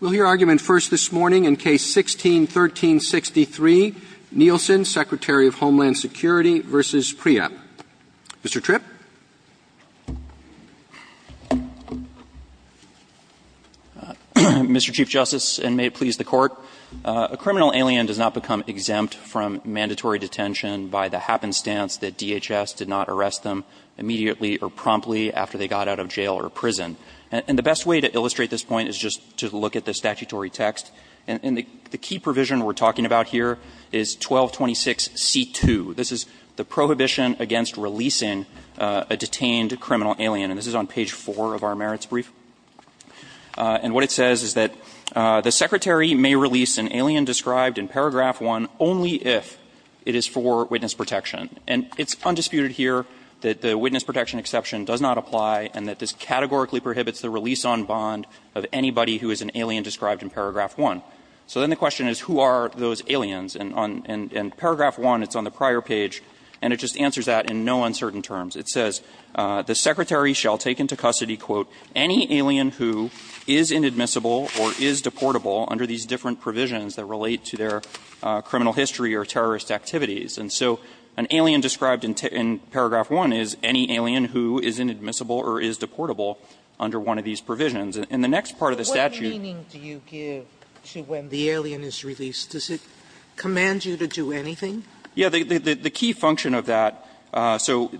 We'll hear argument first this morning in Case 16-1363, Nielsen, Secretary of Homeland Security v. Preap. Mr. Tripp. Mr. Chief Justice, and may it please the Court, a criminal alien does not become exempt from mandatory detention by the happenstance that DHS did not arrest them immediately or promptly after they got out of jail or prison. And the best way to illustrate this point is just to look at the statutory text. And the key provision we're talking about here is 1226C2. This is the prohibition against releasing a detained criminal alien. And this is on page 4 of our merits brief. And what it says is that the Secretary may release an alien described in paragraph 1 only if it is for witness protection. And it's undisputed here that the witness protection exception does not apply and that this categorically prohibits the release on bond of anybody who is an alien described in paragraph 1. So then the question is, who are those aliens? And on paragraph 1, it's on the prior page, and it just answers that in no uncertain terms. It says, The Secretary shall take into custody, quote, any alien who is inadmissible or is deportable under these different provisions that relate to their criminal history or terrorist activities. And so an alien described in paragraph 1 is any alien who is inadmissible or is deportable under one of these provisions. And the next part of the statute Sotomayor, what meaning do you give to when the alien is released? Does it command you to do anything? Yeah. The key function of that, so,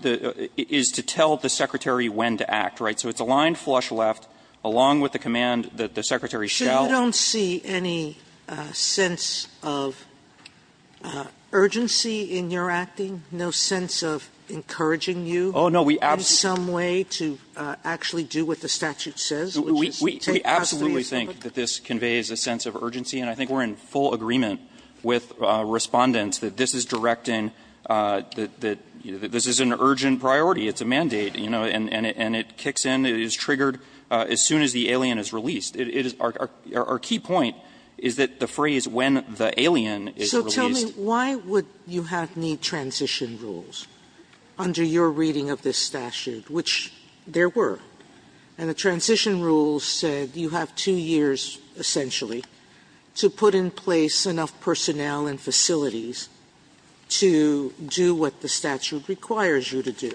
is to tell the Secretary when to act, right? So it's a line flush left, along with the command that the Secretary shall So you don't see any sense of urgency in your acting? No sense of encouraging you Oh, no. in some way to actually do what the statute says, which is take custody of someone? We absolutely think that this conveys a sense of urgency, and I think we're in full agreement with Respondents that this is directing, that this is an urgent priority. It's a mandate, you know, and it kicks in. It is triggered as soon as the alien is released. Our key point is that the phrase, when the alien is released So tell me, why would you have need transition rules under your reading of this statute, which there were? And the transition rules said you have two years, essentially, to put in place enough personnel and facilities to do what the statute requires you to do.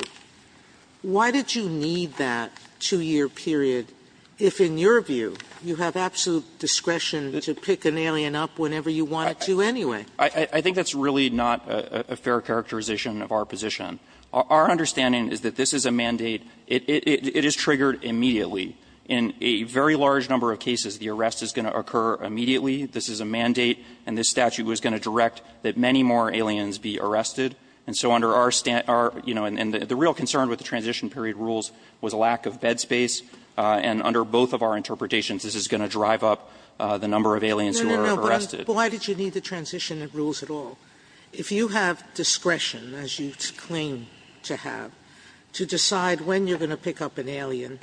Why did you need that two-year period if, in your view, you have absolute discretion to pick an alien up whenever you wanted to anyway? I think that's really not a fair characterization of our position. Our understanding is that this is a mandate. It is triggered immediately. In a very large number of cases, the arrest is going to occur immediately. This is a mandate, and this statute was going to direct that many more aliens be arrested. And so under our stand – you know, and the real concern with the transition period rules was a lack of bed space, and under both of our interpretations, this is going to drive up the number of aliens who are arrested. No, no, no. But why did you need the transition rules at all? If you have discretion, as you claim to have, to decide when you're going to pick up an alien,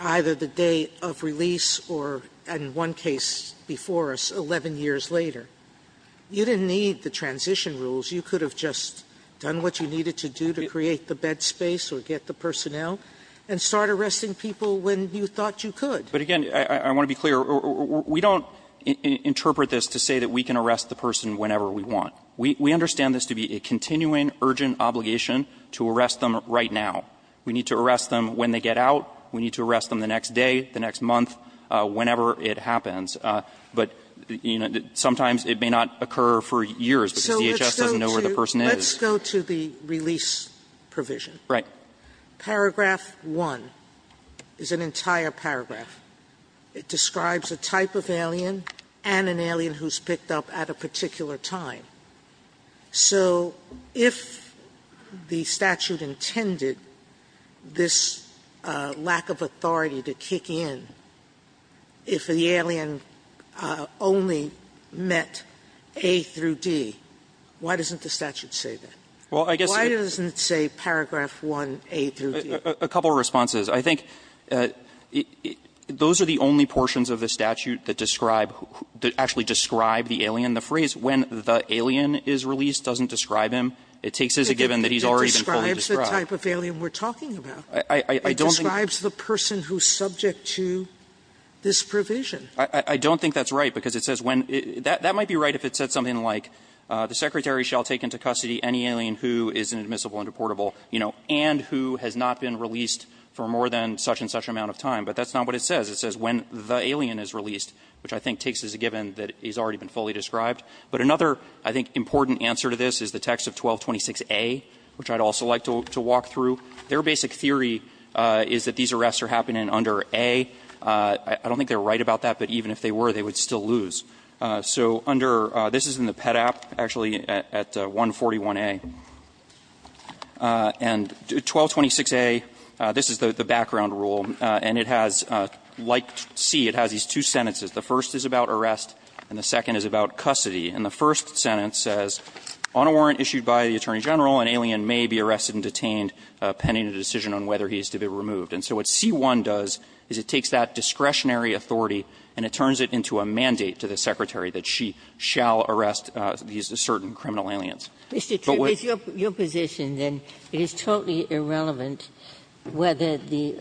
either the day of release or, in one case before us, 11 years later, you didn't need the transition rules. You could have just done what you needed to do to create the bed space or get the personnel and start arresting people when you thought you could. But again, I want to be clear, we don't interpret this to say that we can arrest the person whenever we want. We understand this to be a continuing, urgent obligation to arrest them right now. We need to arrest them when they get out. We need to arrest them the next day, the next month, whenever it happens. But, you know, sometimes it may not occur for years because DHS doesn't know where the person is. Sotomayor, let's go to the release provision. Right. Paragraph 1 is an entire paragraph. It describes a type of alien and an alien who's picked up at a particular time. So if the statute intended this lack of authority to kick in if the alien only met A through D, why doesn't the statute say that? Why doesn't it say paragraph 1, A through D? A couple of responses. I think those are the only portions of the statute that describe, that actually describe the alien. The phrase, when the alien is released, doesn't describe him. It takes as a given that he's already been fully described. Sotomayor, it describes the type of alien we're talking about. I don't think the person who's subject to this provision. I don't think that's right because it says when – that might be right if it said something like the Secretary shall take into custody any alien who is inadmissible and deportable, you know, and who has not been released for more than such and such amount of time, but that's not what it says. It says when the alien is released, which I think takes as a given that he's already been fully described. But another, I think, important answer to this is the text of 1226A, which I'd also like to walk through. Their basic theory is that these arrests are happening under A. I don't think they're right about that, but even if they were, they would still lose. So under – this is in the PET app, actually, at 141A. And 1226A, this is the background rule. And it has, like C, it has these two sentences. The first is about arrest and the second is about custody. And the first sentence says, on a warrant issued by the Attorney General, an alien may be arrested and detained pending a decision on whether he is to be removed. And so what C-1 does is it takes that discretionary authority and it turns it into a mandate to the Secretary that she shall arrest these certain criminal aliens. Ginsburg-McGillivray-Dries-Splitt Mr. Tripp, it's your position, then, it is totally irrelevant whether the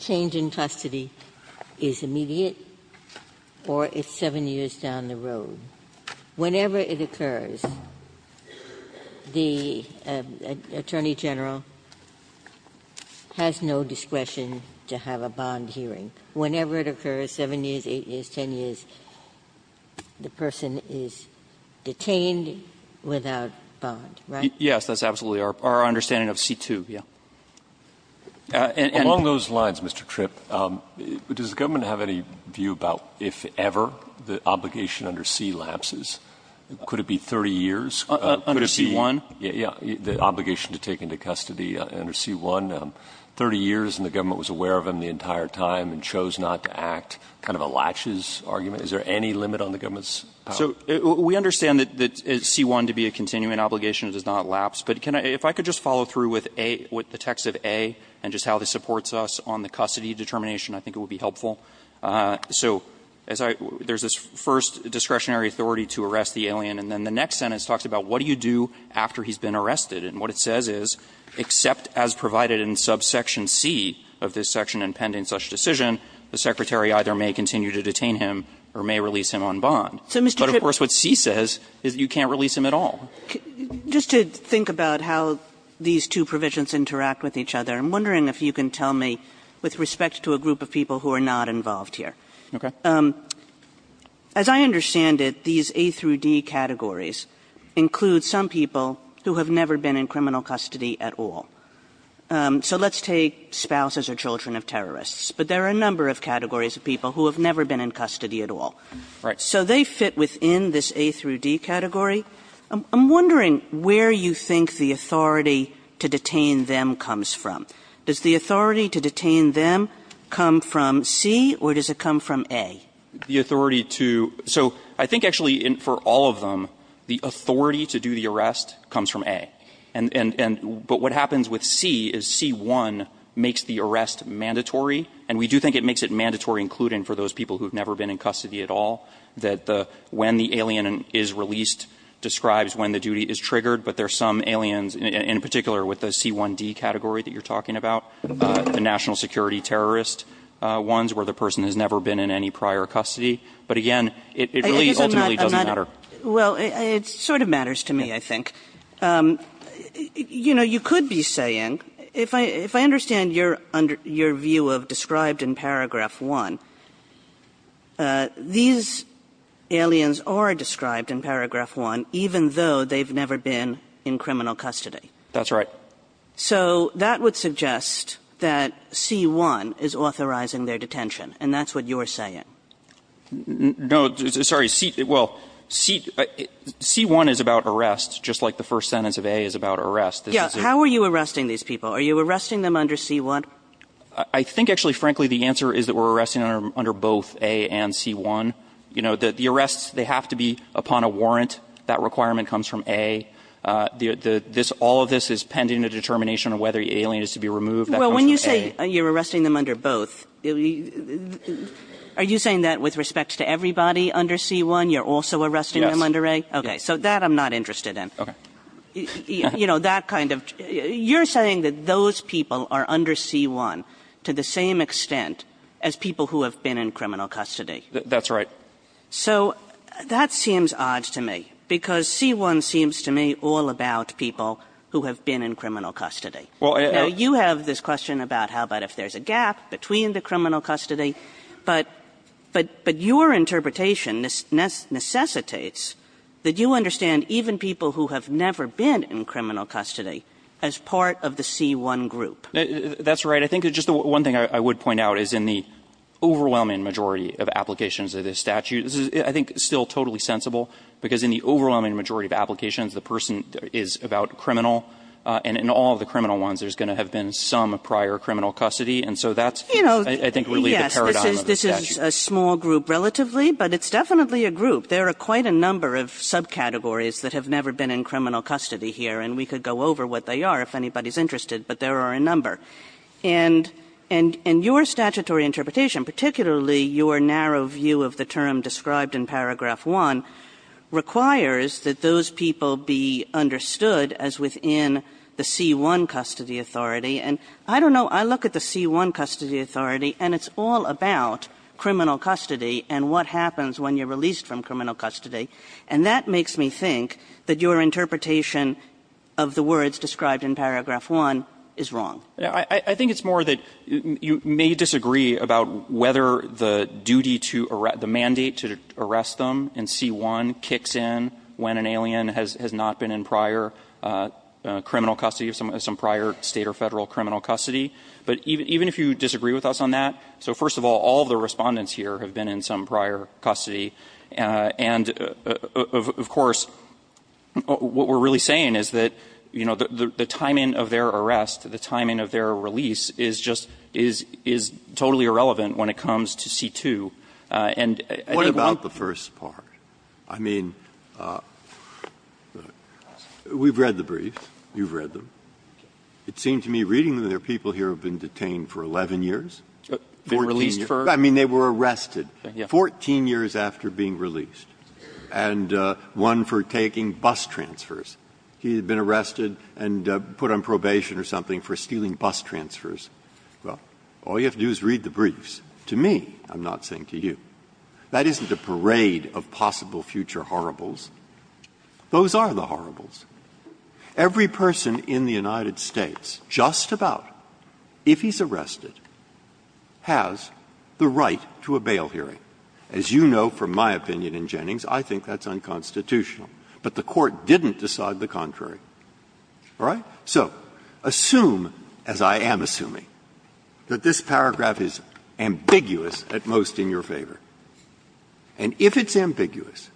change in custody is immediate or it's 7 years down the road. Whenever it occurs, the Attorney General has no discretion to have a bond hearing. Whenever it occurs, 7 years, 8 years, 10 years, the person is detained without bond, right? Tripp Yes, that's absolutely our understanding of C-2, yes. Alito Among those lines, Mr. Tripp, does the government have any view about if ever the obligation under C lapses? Could it be 30 years? Could it be the obligation to take into custody under C-1, 30 years and the government was aware of them the entire time and chose not to act, kind of a latches argument? Is there any limit on the government's power? Tripp So we understand that C-1 to be a continuing obligation does not lapse. But if I could just follow through with the text of A and just how this supports us on the custody determination, I think it would be helpful. So there's this first discretionary authority to arrest the alien and then the next sentence talks about what do you do after he's been arrested. And what it says is, except as provided in subsection C of this section and pending such decision, the Secretary either may continue to detain him or may release him on bond. But of course what C says is you can't release him at all. Kagan Just to think about how these two provisions interact with each other, I'm wondering if you can tell me with respect to a group of people who are not involved here. As I understand it, these A through D categories include some people who have never been in criminal custody at all. So let's take spouses or children of terrorists. But there are a number of categories of people who have never been in custody at all. Tripp Right. Kagan So they fit within this A through D category. I'm wondering where you think the authority to detain them comes from. Does the authority to detain them come from C or does it come from A? Tripp The authority to so I think actually for all of them, the authority to do the arrest comes from A. And but what happens with C is C-1 makes the arrest mandatory. And we do think it makes it mandatory, including for those people who have never been in custody at all, that the when the alien is released describes when the duty is triggered, but there are some aliens, in particular with the C-1D category that you're talking about, the national security terrorist ones where the person has never been in any prior custody. But again, it really ultimately doesn't matter. Kagan Well, it sort of matters to me, I think. You know, you could be saying, if I understand your view of described in paragraph one, these aliens are described in paragraph one, even though they've never been in criminal custody. Tripp That's right. Kagan So that would suggest that C-1 is authorizing their detention. And that's what you're saying. Tripp No, sorry. Well, C-1 is about arrest, just like the first sentence of A is about arrest. Kagan Yeah. How are you arresting these people? Are you arresting them under C-1? Tripp I think, actually, frankly, the answer is that we're arresting under both A and C-1. You know, the arrests, they have to be upon a warrant. That requirement comes from A. This all of this is pending a determination of whether the alien is to be removed. Kagan Well, when you say you're arresting them under both, are you saying that with respect to everybody under C-1, you're also arresting them under A? Okay, so that I'm not interested in. You know, that kind of, you're saying that those people are under C-1 to the same extent as people who have been in criminal custody. Tripp That's right. Kagan So that seems odd to me, because C-1 seems to me all about people who have been in criminal custody. Now, you have this question about how about if there's a gap between the criminal custody, but your interpretation necessitates that you understand even people who have never been in criminal custody as part of the C-1 group. Tripp That's right. I think just one thing I would point out is in the overwhelming majority of applications of this statute, this is, I think, still totally sensible, because in the overwhelming majority of applications, the person is about criminal, and in all of the criminal ones, there's going to have been some prior criminal custody, and so that's, I think, really the paradigm of the statute. Kagan Yes, this is a small group relatively, but it's definitely a group. There are quite a number of subcategories that have never been in criminal custody here, and we could go over what they are if anybody's interested, but there are a number. And your statutory interpretation, particularly your narrow view of the term described in paragraph 1, requires that those people be understood as within the C-1 custody authority, and I don't know. I look at the C-1 custody authority, and it's all about criminal custody and what happens when you're released from criminal custody, and that makes me think that your interpretation of the words described in paragraph 1 is wrong. Tripp I think it's more that you may disagree about whether the duty to erase, the duty to arrest them in C-1 kicks in when an alien has not been in prior criminal custody, some prior State or Federal criminal custody, but even if you disagree with us on that, so first of all, all of the Respondents here have been in some prior custody, and of course, what we're really saying is that, you know, the timing of their arrest, the timing of their release is just – is totally irrelevant when it comes to C-2, and I think what the first part. Breyer What about the first part? I mean, we've read the briefs. You've read them. It seemed to me reading them that people here have been detained for 11 years. 14 years. I mean, they were arrested. 14 years after being released, and one for taking bus transfers. He had been arrested and put on probation or something for stealing bus transfers. Well, all you have to do is read the briefs. To me, I'm not saying to you, that isn't a parade of possible future horribles. Those are the horribles. Every person in the United States, just about, if he's arrested, has the right to a bail hearing. As you know from my opinion in Jennings, I think that's unconstitutional. But the Court didn't decide the contrary. All right? So assume, as I am assuming, that this paragraph is ambiguous at most in your favor. And if it's ambiguous,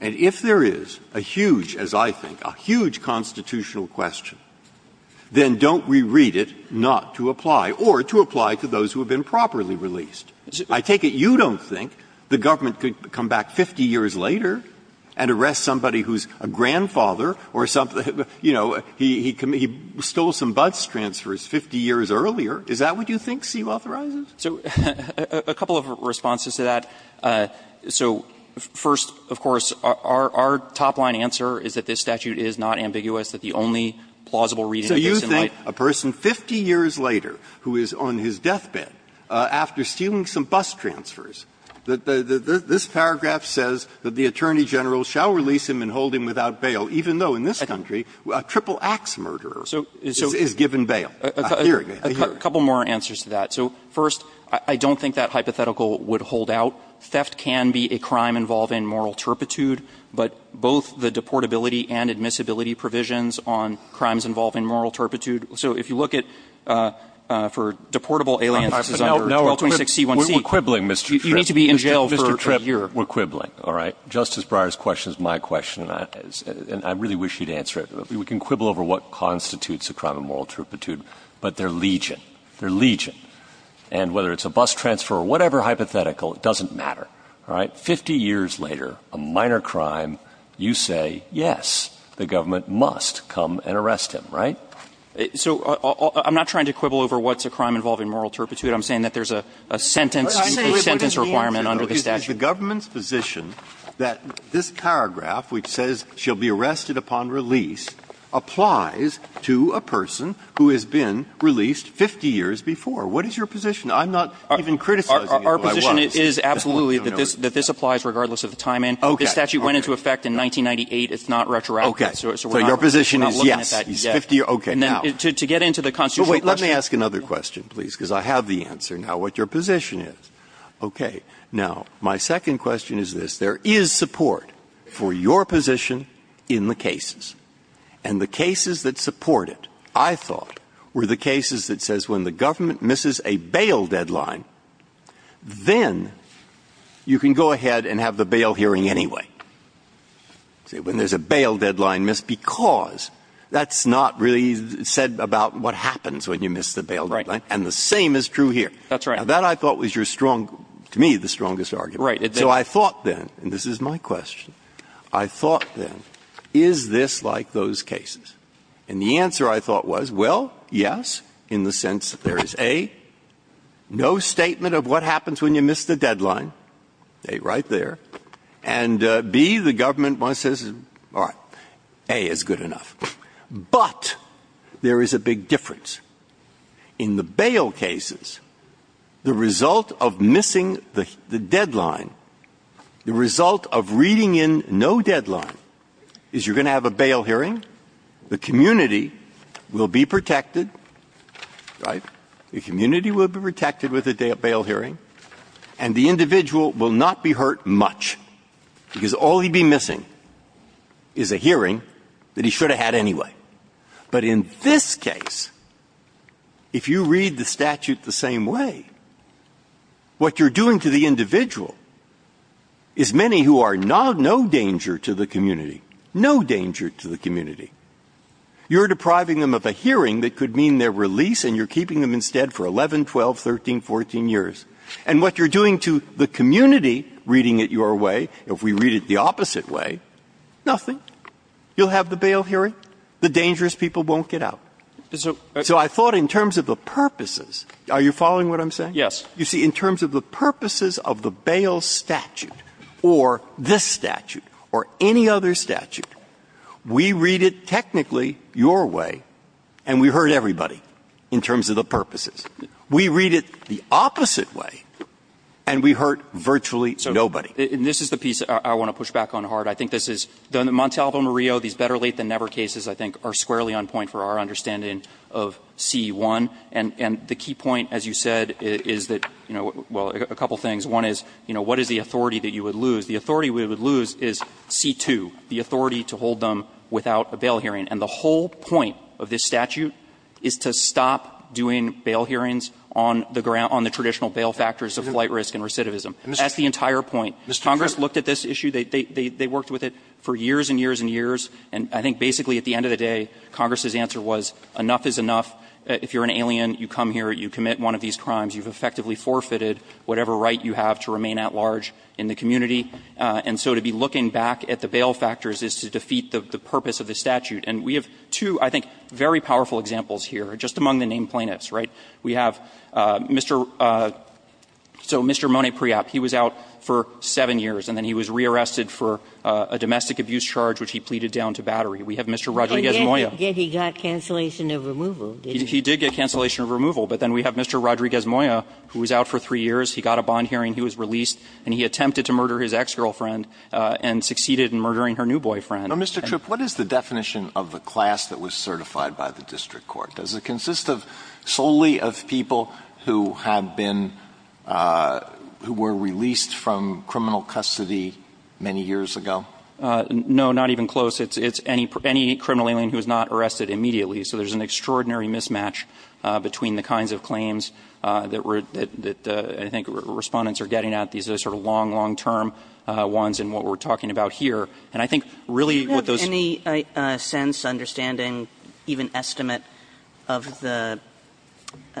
and if there is a huge, as I think, a huge constitutional question, then don't reread it not to apply, or to apply to those who have been properly released. I take it you don't think the government could come back 50 years later and arrest somebody who's a grandfather, or something, you know, he stole some bus transfers 50 years earlier. Is that what you think Sewell authorizes? So a couple of responses to that. So first, of course, our top-line answer is that this statute is not ambiguous, that the only plausible reading is in light. So you think a person 50 years later who is on his deathbed, after stealing some bus transfers, this paragraph says that the Attorney General shall release him and hold him without bail, even though in this country a triple-axe murderer is given bail. I hear it. I hear it. So a couple more answers to that. So first, I don't think that hypothetical would hold out. Theft can be a crime involving moral turpitude, but both the deportability and admissibility provisions on crimes involving moral turpitude. So if you look at, for deportable aliens, this is under 1226c1c. Breyer's question is my question, and I really wish you'd answer it. We can quibble over what constitutes a crime of moral turpitude, but they're legion. They're legion. And whether it's a bus transfer or whatever hypothetical, it doesn't matter. All right? 50 years later, a minor crime, you say, yes, the government must come and arrest him, right? So I'm not trying to quibble over what's a crime involving moral turpitude. I'm saying that there's a sentence requirement under the statute. The government's position that this paragraph, which says she'll be arrested upon release, applies to a person who has been released 50 years before. What is your position? I'm not even criticizing it, but I was. Our position is absolutely that this applies regardless of the time in. This statute went into effect in 1998. So we're not looking at that yet. So your position is, yes, he's 50 years old. To get into the constitutional question. Breyer. Let me ask another question, please, because I have the answer now what your position is. Okay. Now, my second question is this. There is support for your position in the cases. And the cases that support it, I thought, were the cases that says when the government misses a bail deadline, then you can go ahead and have the bail hearing anyway. When there's a bail deadline missed, because that's not really said about what happens when you miss the bail deadline, and the same is true here. That's right. Now, that I thought was your strong, to me, the strongest argument. Right. So I thought then, and this is my question, I thought then, is this like those cases? And the answer, I thought, was, well, yes, in the sense that there is a, no statement of what happens when you miss the deadline, A, right there, and B, the government once says, all right, A is good enough. But there is a big difference. In the bail cases, the result of missing the deadline, the result of reading in no deadline, is you're going to have a bail hearing, the community will be protected, right? The community will be protected with a bail hearing, and the individual will not be hurt much, because all he'd be missing is a hearing that he should have had anyway. But in this case, if you read the statute the same way, what you're doing to the individual is many who are no danger to the community, no danger to the community. You're depriving them of a hearing that could mean their release, and you're keeping them instead for 11, 12, 13, 14 years. And what you're doing to the community, reading it your way, if we read it the opposite way, nothing. You'll have the bail hearing. The dangerous people won't get out. So I thought in terms of the purposes, are you following what I'm saying? You see, in terms of the purposes of the bail statute, or this statute, or any other And we hurt everybody in terms of the purposes. We read it the opposite way, and we hurt virtually nobody. And this is the piece I want to push back on hard. I think this is the Montalvo-Murillo, these better late than never cases, I think, are squarely on point for our understanding of C-1. And the key point, as you said, is that, you know, well, a couple things. One is, you know, what is the authority that you would lose? The authority we would lose is C-2, the authority to hold them without a bail hearing. And the whole point of this statute is to stop doing bail hearings on the ground – on the traditional bail factors of flight risk and recidivism. That's the entire point. Congress looked at this issue. They worked with it for years and years and years. And I think basically at the end of the day, Congress's answer was enough is enough. If you're an alien, you come here, you commit one of these crimes, you've effectively forfeited whatever right you have to remain at large in the community. And so to be looking back at the bail factors is to defeat the purpose of the statute. And we have two, I think, very powerful examples here, just among the named plaintiffs, right? We have Mr. – so Mr. Monet Priap, he was out for seven years, and then he was rearrested for a domestic abuse charge, which he pleaded down to battery. We have Mr. Rodriguez-Moya. Ginsburg. And yet he got cancellation of removal, didn't he? He did get cancellation of removal. But then we have Mr. Rodriguez-Moya, who was out for three years. He got a bond hearing, he was released, and he attempted to murder his ex-girlfriend and succeeded in murdering her new boyfriend. Mr. Tripp, what is the definition of the class that was certified by the district court? Does it consist of solely of people who have been – who were released from criminal custody many years ago? No, not even close. It's any criminal alien who is not arrested immediately. So there's an extraordinary mismatch between the kinds of claims that I think Respondents are getting at. These are sort of long, long-term ones in what we're talking about here. And I think really what those – Do you have any sense, understanding, even estimate of the –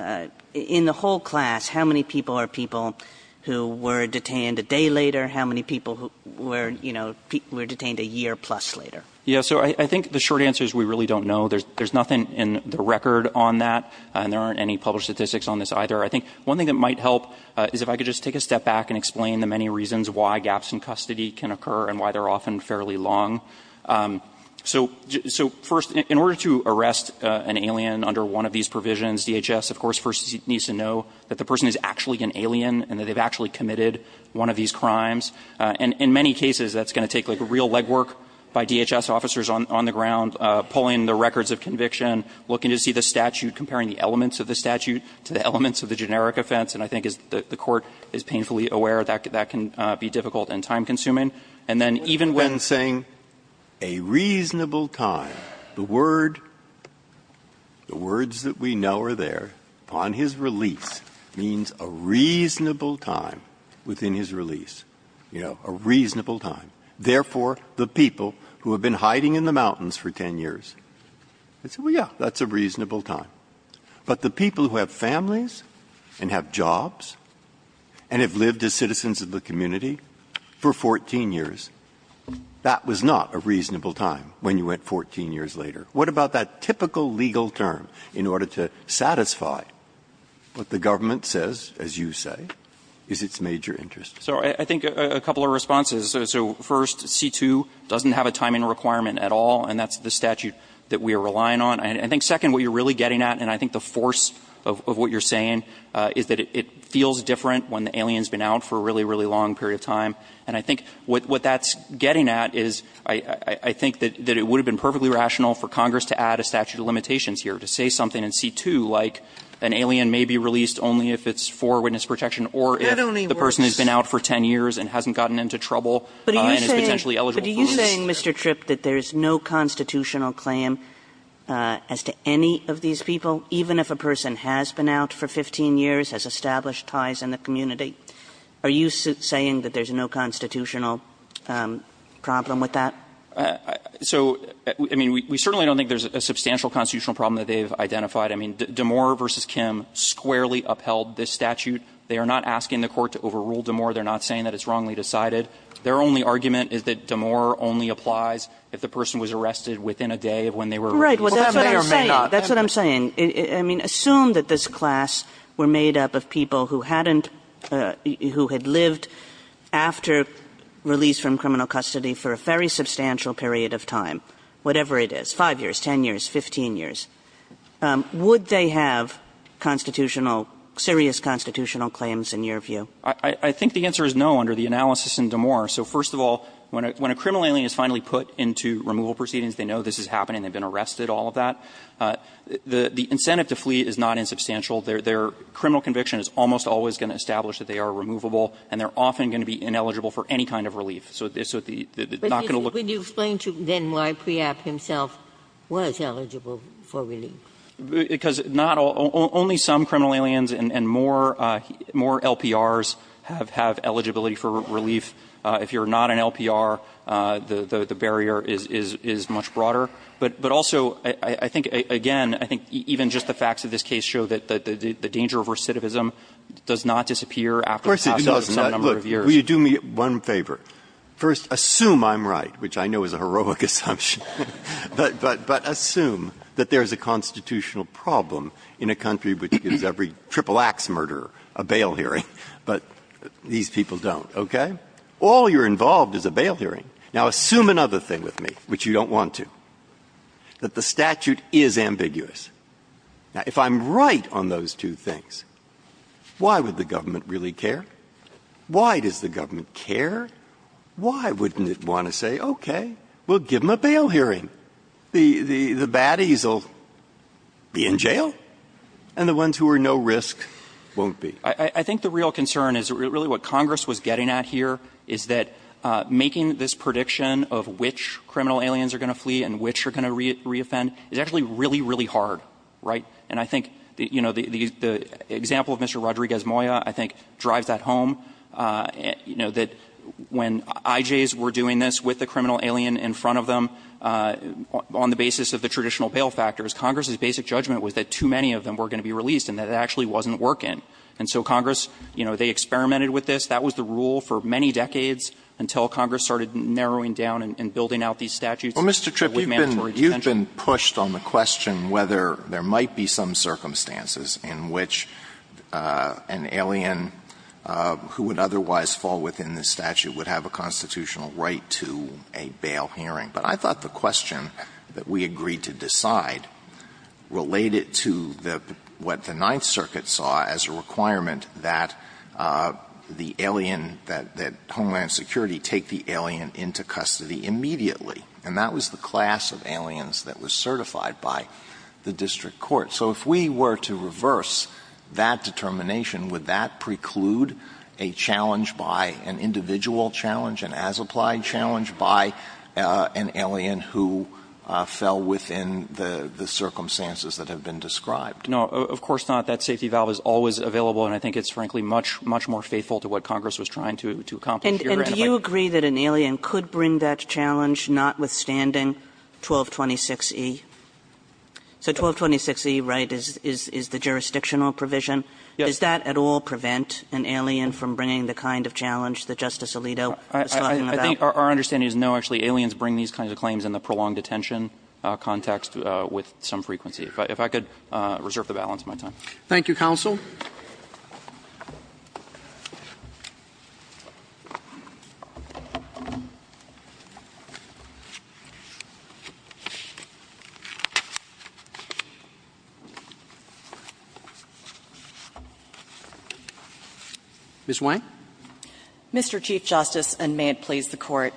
in the whole class, how many people are people who were detained a day later? How many people were, you know, were detained a year plus later? Yeah. So I think the short answer is we really don't know. There's nothing in the record on that, and there aren't any published statistics on this either. I think one thing that might help is if I could just take a step back and explain the many reasons why gaps in custody can occur and why they're often fairly long. So first, in order to arrest an alien under one of these provisions, DHS, of course, first needs to know that the person is actually an alien and that they've actually committed one of these crimes. And in many cases, that's going to take, like, real legwork by DHS officers on the ground, pulling the records of conviction, looking to see the statute, comparing the elements of the statute to the elements of the generic offense. And I think, as the Court is painfully aware, that can be difficult and time-consuming. And then even when we're saying a reasonable time, the word, the words that we know are there, upon his release, means a reasonable time within his release, you know, a reasonable time. Therefore, the people who have been hiding in the mountains for 10 years, they say, well, yeah, that's a reasonable time. But the people who have families and have jobs and have lived as citizens of the community for 14 years, that was not a reasonable time when you went 14 years later. What about that typical legal term in order to satisfy what the government says, as you say, is its major interest? So I think a couple of responses. So first, C-2 doesn't have a timing requirement at all, and that's the statute that we are relying on. And I think, second, what you're really getting at, and I think the force of what you're saying, is that it feels different when the alien's been out for a really, really long period of time. And I think what that's getting at is I think that it would have been perfectly rational for Congress to add a statute of limitations here, to say something in C-2, like an alien may be released only if it's for witness protection or if the person has been out for 10 years and hasn't gotten into trouble and is potentially eligible for this. Kagan, are you saying, Mr. Tripp, that there's no constitutional claim as to any of these people, even if a person has been out for 15 years, has established ties in the community? Are you saying that there's no constitutional problem with that? Tripp So, I mean, we certainly don't think there's a substantial constitutional problem that they've identified. I mean, Damore v. Kim squarely upheld this statute. They are not asking the Court to overrule Damore. They're not saying that it's wrongly decided. Their only argument is that Damore only applies if the person was arrested within a day of when they were released. Kagan Well, that's what I'm saying. That's what I'm saying. I mean, assume that this class were made up of people who hadn't – who had lived after release from criminal custody for a very substantial period of time, whatever it is, 5 years, 10 years, 15 years. Would they have constitutional – serious constitutional claims in your view? Tripp I think the answer is no under the analysis in Damore. So, first of all, when a criminal alien is finally put into removal proceedings, they know this is happening. They've been arrested, all of that. The incentive to flee is not insubstantial. Their criminal conviction is almost always going to establish that they are removable, and they're often going to be ineligible for any kind of relief. So, they're not going to look for – Ginsburg Would you explain, then, why Preop himself was eligible for relief? Tripp Because not all – only some criminal aliens and more LPRs have – have eligibility for relief. If you're not an LPR, the barrier is much broader. But also, I think, again, I think even just the facts of this case show that the danger of recidivism does not disappear after the process of some number of years. Breyer Look, will you do me one favor? First, assume I'm right, which I know is a heroic assumption. But assume that there's a constitutional problem in a country which gives every triple-axe murderer a bail hearing, but these people don't, okay? All you're involved is a bail hearing. Now, assume another thing with me, which you don't want to, that the statute is ambiguous. Now, if I'm right on those two things, why would the government really care? Why does the government care? Why wouldn't it want to say, okay, we'll give them a bail hearing? The baddies will be in jail, and the ones who are no risk won't be. Tripp I think the real concern is really what Congress was getting at here is that making this prediction of which criminal aliens are going to flee and which are going to reoffend is actually really, really hard, right? And I think, you know, the example of Mr. Rodriguez-Moya, I think, drives that home, you know, that when IJs were doing this with the criminal alien in front of them on the basis of the traditional bail factors, Congress's basic judgment was that too many of them were going to be released and that it actually wasn't working. And so Congress, you know, they experimented with this. That was the rule for many decades until Congress started narrowing down and building out these statutes with mandatory detention. Alitoson Well, Mr. Tripp, you've been pushed on the fall within the statute would have a constitutional right to a bail hearing. But I thought the question that we agreed to decide related to what the Ninth Circuit saw as a requirement that the alien, that Homeland Security take the alien into custody immediately. And that was the class of aliens that was certified by the district court. So if we were to reverse that determination, would that preclude a challenge by an individual challenge, an as-applied challenge by an alien who fell within the circumstances that have been described? Tripp No, of course not. That safety valve is always available. And I think it's, frankly, much, much more faithful to what Congress was trying to accomplish here. Kagan And do you agree that an alien could bring that challenge, notwithstanding 1226e? So 1226e, right, is the jurisdictional provision. Does that at all prevent an alien from bringing the kind of challenge that Justice Alito was talking about? Tripp I think our understanding is no, actually. Aliens bring these kinds of claims in the prolonged detention context with some frequency. If I could reserve the balance of my time. Roberts Thank you, counsel. Ms. Wang. Ms. Wang Mr. Chief Justice, and may it please the Court,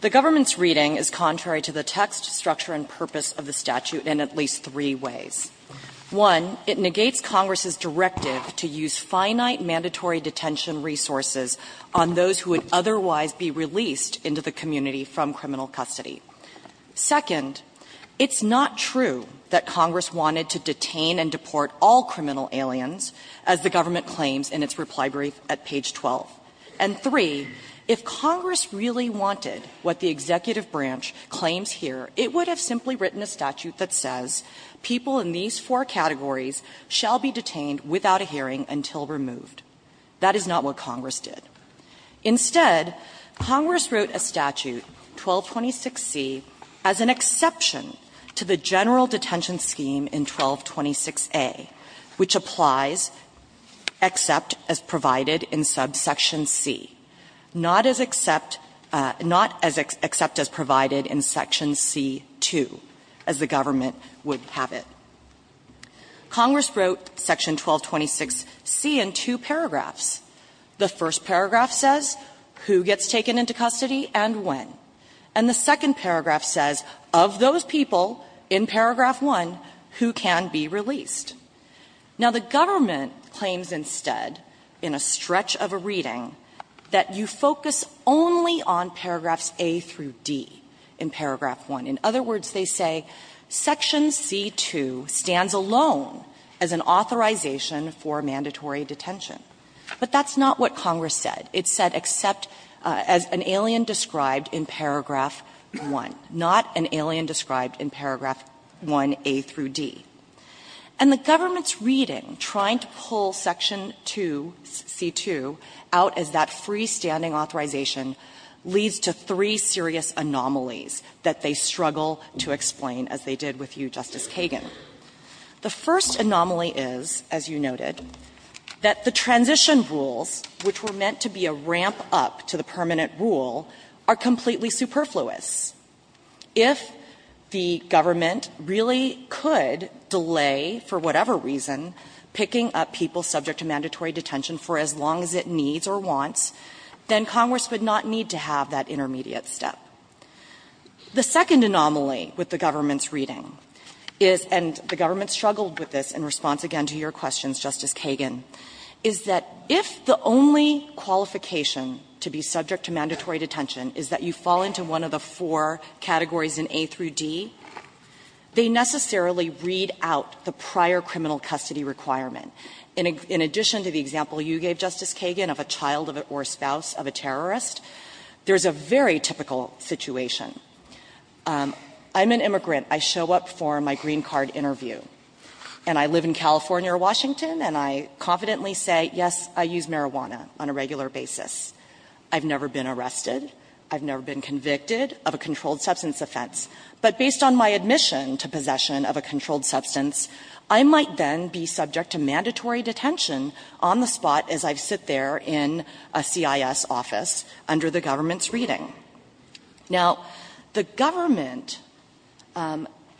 the government's reading is contrary to the text, structure, and purpose of the statute in at least three ways. One, it negates Congress's directive to use finite mandatory detention resources on those who would otherwise be released into the community from criminal custody. Second, it's not true that Congress wanted to detain and deport all criminal aliens, as the government claims in its reply brief at page 12. And three, if Congress really wanted what the executive branch claims here, it would have simply written a statute that says people in these four categories shall be detained without a hearing until removed. That is not what Congress did. Instead, Congress wrote a statute, 1226C, as an exception to the general detention scheme in 1226A, which applies except as provided in subsection C, not as except as provided in section C-2, as the government would have it. Congress wrote section 1226C in two paragraphs. The first paragraph says who gets taken into custody and when. And the second paragraph says of those people in paragraph 1, who can be released. Now, the government claims instead, in a stretch of a reading, that you focus only on paragraphs A through D in paragraph 1. In other words, they say section C-2 stands alone as an authorization for mandatory detention. But that's not what Congress said. It said except as an alien described in paragraph 1, not an alien described in paragraph 1A through D. And the government's reading, trying to pull section 2, C-2, out as that freestanding authorization, leads to three serious anomalies that they struggle to explain, as they did with you, Justice Kagan. The first anomaly is, as you noted, that the transition rules, which were meant to be a ramp-up to the permanent rule, are completely superfluous. If the government really could delay, for whatever reason, picking up people subject to mandatory detention for as long as it needs or wants, then Congress would not need to have that intermediate step. The second anomaly with the government's reading is, and the government struggled with this in response, again, to your questions, Justice Kagan, is that if the only qualification to be subject to mandatory detention is that you fall into one of the four categories in A through D, they necessarily read out the prior criminal custody requirement. In addition to the example you gave, Justice Kagan, of a child or a spouse of a terrorist, there's a very typical situation. I'm an immigrant. I show up for my green card interview, and I live in California or Washington, and I confidently say, yes, I use marijuana on a regular basis. I've never been arrested. I've never been convicted of a controlled substance offense. But based on my admission to possession of a controlled substance, I might then be subject to mandatory detention on the spot as I sit there in a CIS office under the government's reading. Now, the government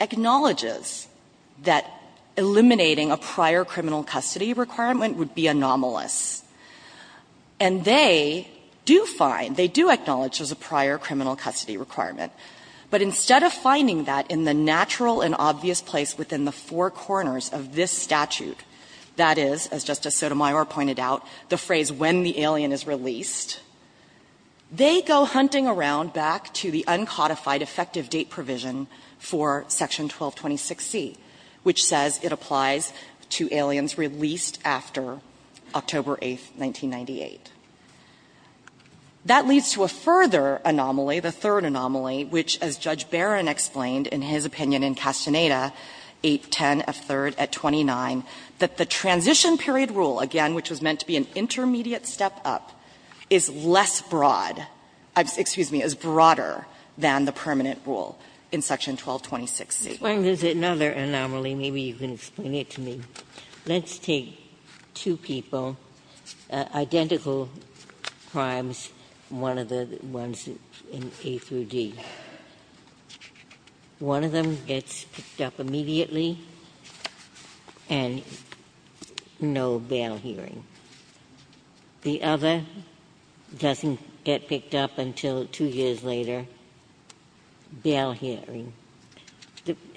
acknowledges that eliminating a prior criminal custody requirement would be anomalous. And they do find, they do acknowledge there's a prior criminal custody requirement. But instead of finding that in the natural and obvious place within the four corners of this statute, that is, as Justice Sotomayor pointed out, the phrase, when the alien is released, they go hunting around back to the uncodified effective date provision for Section 1226C, which says it applies to aliens released after October 8, 1998. That leads to a further anomaly, the third anomaly, which, as Judge Barron explained in his opinion in Castaneda 810F3rd at 29, that the transition period rule, again, which was meant to be an intermediate step up, is less broad – excuse me – is broader than the permanent rule in Section 1226C. Just when there's another anomaly, maybe you can explain it to me, let's take two people, identical crimes, one of the ones in A through D. One of them gets picked up immediately and no bail hearing. The other doesn't get picked up until two years later, bail hearing.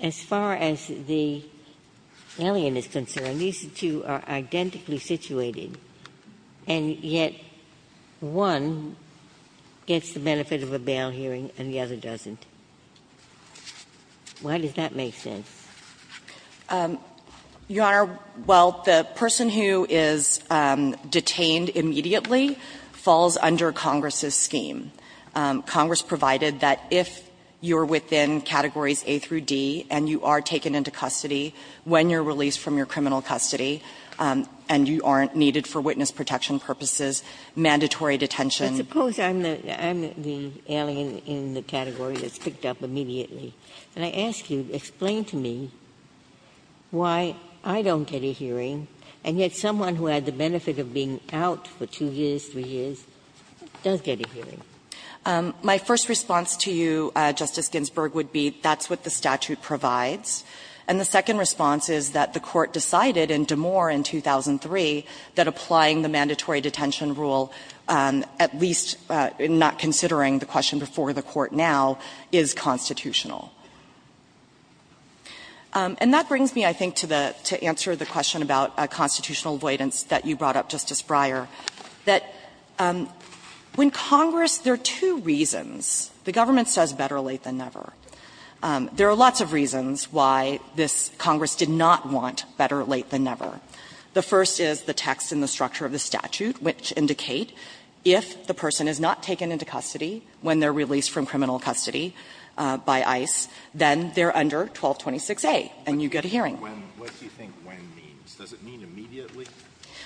As far as the alien is concerned, these two are identically situated, and yet one gets the benefit of a bail hearing and the other doesn't. Why does that make sense? O'Connell. Your Honor, well, the person who is detained immediately falls under Congress's scheme. Congress provided that if you're within categories A through D and you are taken into custody when you're released from your criminal custody and you aren't needed for witness protection purposes, mandatory detention. But suppose I'm the alien in the category that's picked up immediately, and I ask you, explain to me why I don't get a hearing and yet someone who had the benefit of being out for two years, three years, does get a hearing. My first response to you, Justice Ginsburg, would be that's what the statute provides. And the second response is that the Court decided in DeMoor in 2003 that applying the mandatory detention rule, at least not considering the question before the Court now, is constitutional. And that brings me, I think, to the question about constitutional avoidance that you brought up, Justice Breyer, that when Congress, there are two reasons. The government says better late than never. There are lots of reasons why this Congress did not want better late than never. The first is the text in the structure of the statute, which indicate if the person is not taken into custody when they're released from criminal custody by ICE, then they're under 1226a and you get a hearing. Alito, what do you think when means? Does it mean immediately?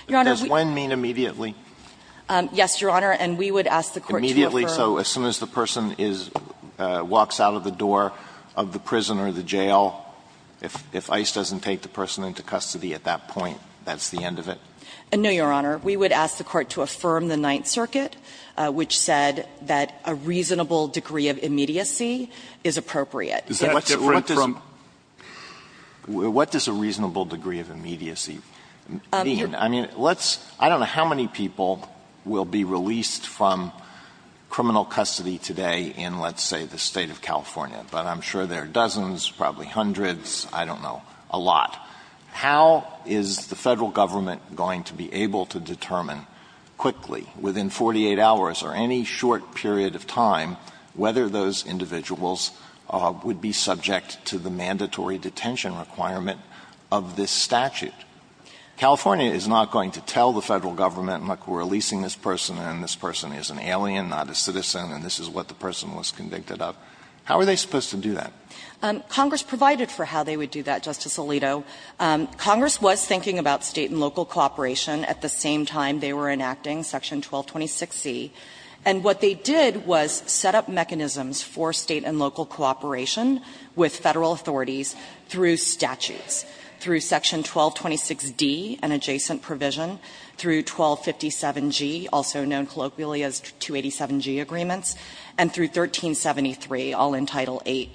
Does when mean immediately? Yes, Your Honor, and we would ask the Court to affirm. Immediately, so as soon as the person is – walks out of the door of the prison or the jail, if ICE doesn't take the person into custody at that point, that's the end of it? No, Your Honor. We would ask the Court to affirm the Ninth Circuit, which said that a reasonable degree of immediacy is appropriate. What does a reasonable degree of immediacy mean? I mean, let's – I don't know how many people will be released from criminal custody today in, let's say, the State of California, but I'm sure there are dozens, probably hundreds, I don't know, a lot. How is the Federal Government going to be able to determine quickly, within 48 hours or any short period of time, whether those individuals would be subject to the mandatory detention requirement of this statute? California is not going to tell the Federal Government, look, we're releasing this person and this person is an alien, not a citizen, and this is what the person was convicted of. How are they supposed to do that? Congress provided for how they would do that, Justice Alito. Congress was thinking about State and local cooperation at the same time they were enacting Section 1226C, and what they did was set up mechanisms for State and local cooperation with Federal authorities through statutes, through Section 1226D, an adjacent provision, through 1257G, also known colloquially as 287G agreements, and through 1373, all in Title VIII.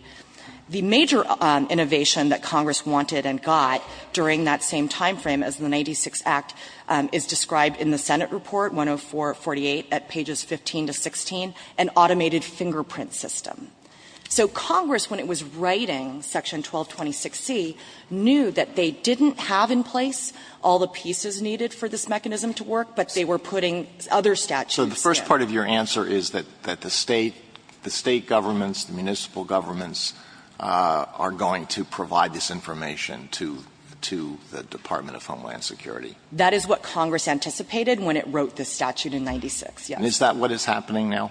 The major innovation that Congress wanted and got during that same time frame as the Senate report, 10448, at pages 15 to 16, an automated fingerprint system. So Congress, when it was writing Section 1226C, knew that they didn't have in place all the pieces needed for this mechanism to work, but they were putting other statutes there. Alito So the first part of your answer is that the State, the State governments, the municipal governments are going to provide this information to the Department of Homeland Security? O'Connell That is what Congress anticipated when it wrote this statute in 1996, yes. Alito And is that what is happening now?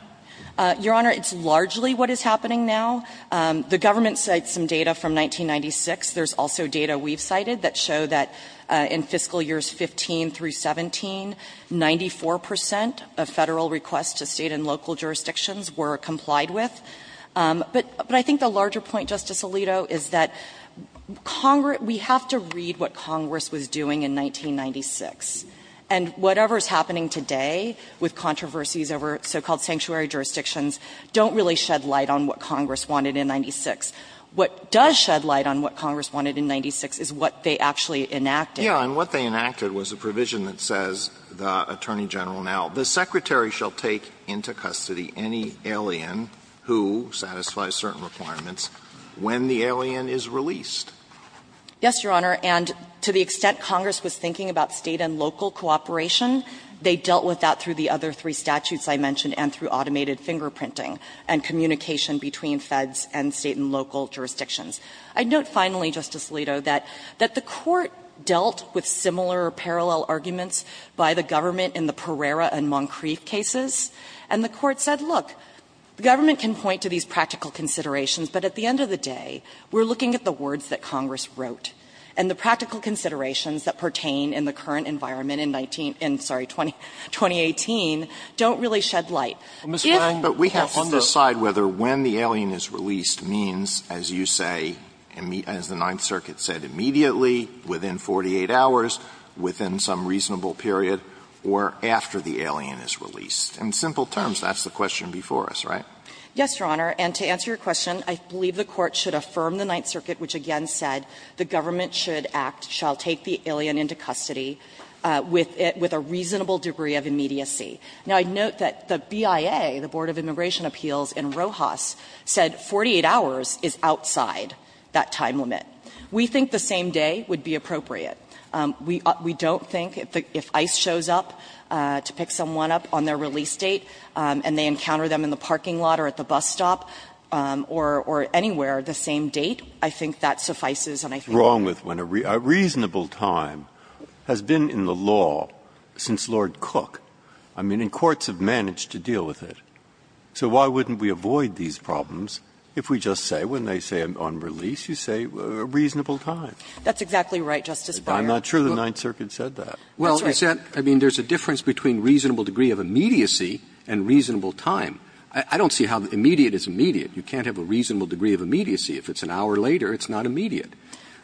O'Connell Your Honor, it's largely what is happening now. The government cites some data from 1996. There's also data we've cited that show that in fiscal years 15 through 17, 94 percent of Federal requests to State and local jurisdictions were complied with. But I think the larger point, Justice Alito, is that Congress, we have to read what Congress wanted in 1996. And whatever is happening today with controversies over so-called sanctuary jurisdictions don't really shed light on what Congress wanted in 96. What does shed light on what Congress wanted in 96 is what they actually enacted. Alito Yes, and what they enacted was a provision that says, the Attorney General now, the Secretary shall take into custody any alien who satisfies certain requirements when the alien is released. O'Connell Yes, Your Honor, and to the extent Congress was thinking about State and local cooperation, they dealt with that through the other three statutes I mentioned and through automated fingerprinting and communication between Feds and State and local jurisdictions. I note finally, Justice Alito, that the Court dealt with similar parallel arguments by the government in the Pereira and Moncrief cases, and the Court said, look, the government can point to these practical considerations, but at the end of the day, we're looking at the words that Congress wrote, and the practical considerations that pertain in the current environment in 19 — sorry, 2018 don't really shed light. Alito But we have to decide whether when the alien is released means, as you say, as the Ninth Circuit said, immediately, within 48 hours, within some reasonable period, or after the alien is released. In simple terms, that's the question before us, right? O'Connell Yes, Your Honor, and to answer your question, I believe the Court should affirm the Ninth Circuit, which again said the government should act, shall take the alien into custody with a reasonable degree of immediacy. Now, I note that the BIA, the Board of Immigration Appeals in Rojas, said 48 hours is outside that time limit. We think the same day would be appropriate. We don't think if ICE shows up to pick someone up on their release date and they date, I think that suffices, and I think that's right. Breyer Wrong with when a — a reasonable time has been in the law since Lord Cook. I mean, and courts have managed to deal with it. So why wouldn't we avoid these problems if we just say, when they say on release, you say a reasonable time? O'Connell That's exactly right, Justice Breyer. Breyer I'm not sure the Ninth Circuit said that. Roberts Well, I mean, there's a difference between reasonable degree of immediacy and reasonable time. I don't see how immediate is immediate. You can't have a reasonable degree of immediacy. If it's an hour later, it's not immediate.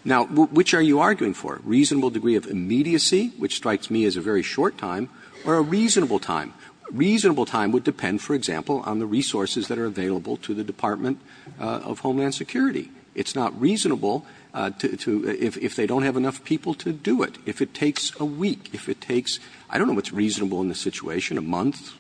Now, which are you arguing for? Reasonable degree of immediacy, which strikes me as a very short time, or a reasonable time? Reasonable time would depend, for example, on the resources that are available to the Department of Homeland Security. It's not reasonable to — if they don't have enough people to do it. If it takes a week, if it takes — I don't know what's reasonable in this situation, a month.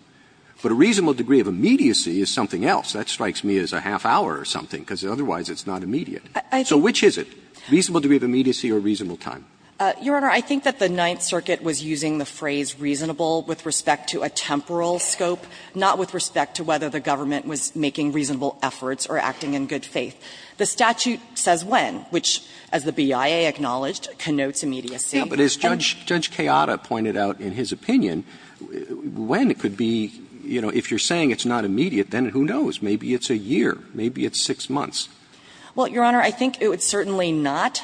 But a reasonable degree of immediacy is something else. That strikes me as a half hour or something, because otherwise it's not immediate. So which is it? Reasonable degree of immediacy or reasonable time? O'Connell Your Honor, I think that the Ninth Circuit was using the phrase reasonable with respect to a temporal scope, not with respect to whether the government was making reasonable efforts or acting in good faith. The statute says when, which, as the BIA acknowledged, connotes immediacy. Roberts Yeah, but as Judge Chiara pointed out in his opinion, when could be, you know, if you're saying it's not immediate, then who knows? Maybe it's a year, maybe it's six months. O'Connell Well, Your Honor, I think it would certainly not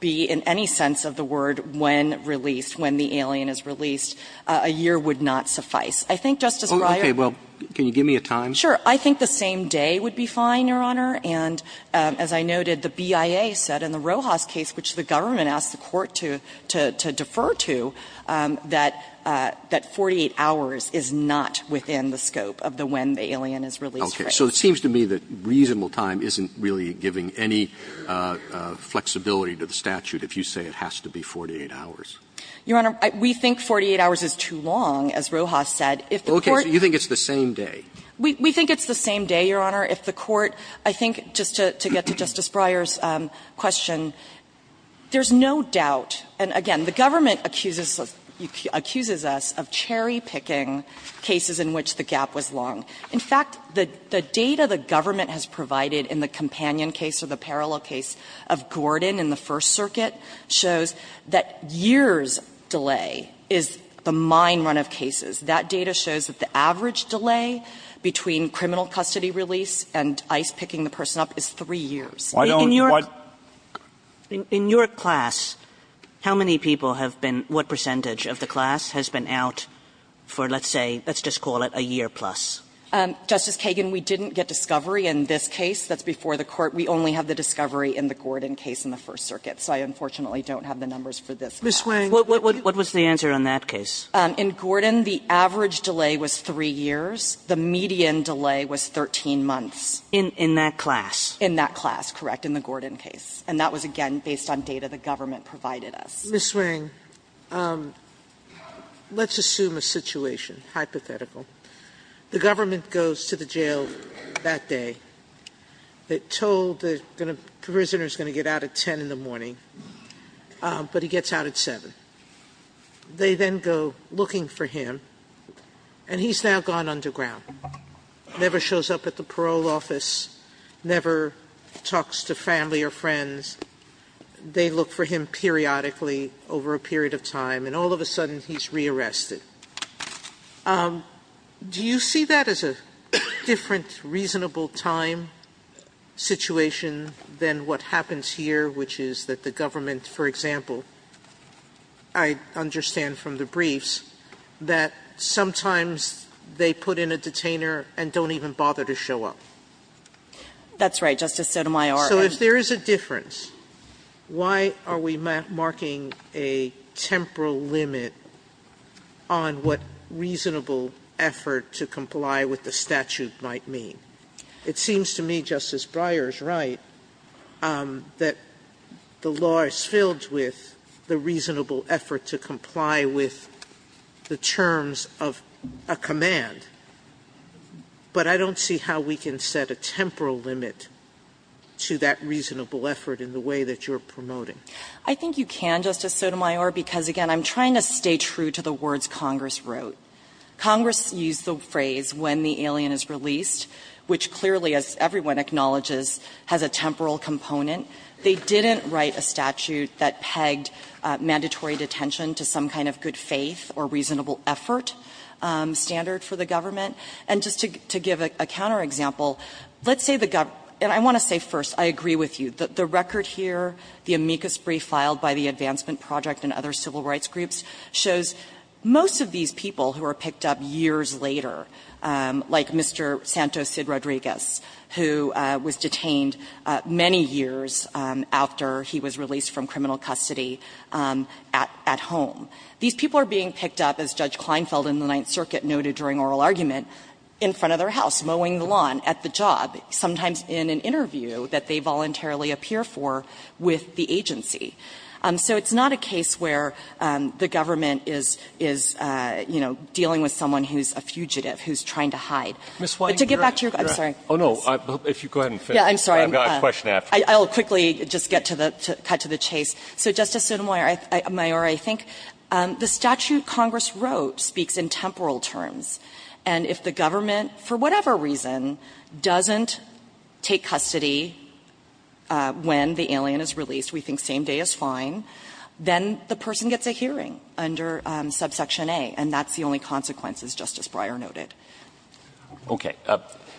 be in any sense of the word when released, when the alien is released. A year would not suffice. I think, Justice Breyer — Roberts Okay. Well, can you give me a time? O'Connell Sure. I think the same day would be fine, Your Honor. And as I noted, the BIA said in the Rojas case, which the government asked the Court to defer to, that 48 hours is not within the scope of the when the alien is released. Roberts Okay. So it seems to me that reasonable time isn't really giving any flexibility to the statute if you say it has to be 48 hours. O'Connell Your Honor, we think 48 hours is too long, as Rojas said. If the Court — Roberts Okay. So you think it's the same day? O'Connell We think it's the same day, Your Honor. If the Court — I think just to get to Justice Breyer's question, there's no doubt — and again, the government accuses us of cherry-picking cases in which the gap was long. In fact, the data the government has provided in the companion case or the parallel case of Gordon in the First Circuit shows that years' delay is the mine run of cases. That data shows that the average delay between criminal custody release and ICE picking the person up is 3 years. Roberts Why don't you — Kagan In your class, how many people have been — what percentage of the class has been out for, let's say, let's just call it a year plus? O'Connell Justice Kagan, we didn't get discovery in this case. That's before the Court. We only have the discovery in the Gordon case in the First Circuit. So I unfortunately don't have the numbers for this. Sotomayor Ms. Wang — Sotomayor What was the answer on that case? O'Connell In Gordon, the average delay was 3 years. The median delay was 13 months. Sotomayor In that class? O'Connell In that class, correct, in the Gordon case. And that was, again, based on data the government provided us. Sotomayor Ms. Wang, let's assume a situation, hypothetical. The government goes to the jail that day. They're told the prisoner's going to get out at 10 in the morning, but he gets out at 7. They then go looking for him, and he's now gone underground, never shows up at the parole office, never talks to family or friends. They look for him periodically over a period of time, and all of a sudden he's re-arrested. Do you see that as a different reasonable time situation than what happens here, which is that the government, for example, I understand from the briefs, that sometimes they put in a detainer and don't even bother to show up? O'Connell That's right, Justice Sotomayor. Sotomayor So if there is a difference, why are we marking a temporal limit on what reasonable effort to comply with the statute might mean? It seems to me, Justice Breyer is right, that the law is filled with the reasonable effort to comply with the terms of a command. But I don't see how we can set a temporal limit to that reasonable effort in the way that you're promoting. I think you can, Justice Sotomayor, because again, I'm trying to stay true to the words Congress wrote. Congress used the phrase, when the alien is released, which clearly, as everyone acknowledges, has a temporal component. They didn't write a statute that pegged mandatory detention to some kind of good faith or reasonable effort standard for the government. And just to give a counterexample, let's say the government, and I want to say first, I agree with you, the record here, the amicus brief filed by the Advancement Project and other civil rights groups, shows most of these people who are picked up years later, like Mr. Santos Cid Rodriguez, who was detained many years after he was released from criminal custody at home. These people are being picked up, as Judge Kleinfeld in the Ninth Circuit noted during oral argument, in front of their house, mowing the lawn at the job, sometimes in an interview that they voluntarily appear for with the agency. So it's not a case where the government is, you know, dealing with someone who's a fugitive, who's trying to hide. But to get back to your question, I'm sorry. Roberts. Oh, no, if you go ahead and finish, I've got a question after. I'll quickly just get to the chase. So, Justice Sotomayor, I think the statute Congress wrote speaks in temporal terms. And if the government, for whatever reason, doesn't take custody when the alien is released, we think same day is fine, then the person gets a hearing under Subsection A, and that's the only consequence, as Justice Breyer noted. Okay.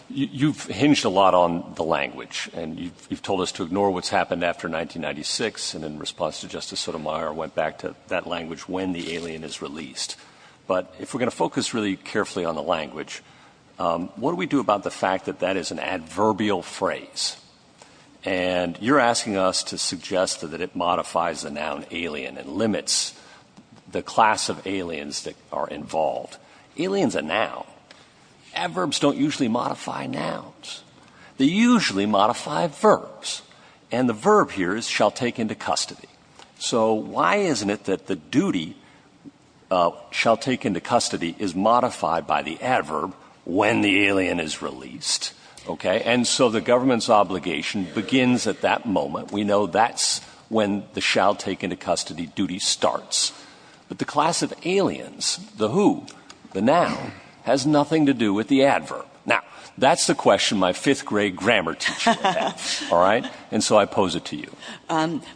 You've hinged a lot on the language, and you've told us to ignore what's happened after 1996, and in response to Justice Sotomayor, went back to that language when the alien is released. But if we're going to focus really carefully on the language, what do we do about the fact that that is an adverbial phrase? And you're asking us to suggest that it modifies the noun alien and limits the class of aliens that are involved. Alien's a noun. Adverbs don't usually modify nouns. They usually modify verbs. And the verb here is shall take into custody. So why isn't it that the duty shall take into custody is modified by the adverb when the alien is released? Okay. And so the government's obligation begins at that moment. We know that's when the shall take into custody duty starts. But the class of aliens, the who, the noun, has nothing to do with the adverb. Now, that's the question my fifth grade grammar teacher had. All right. And so I pose it to you.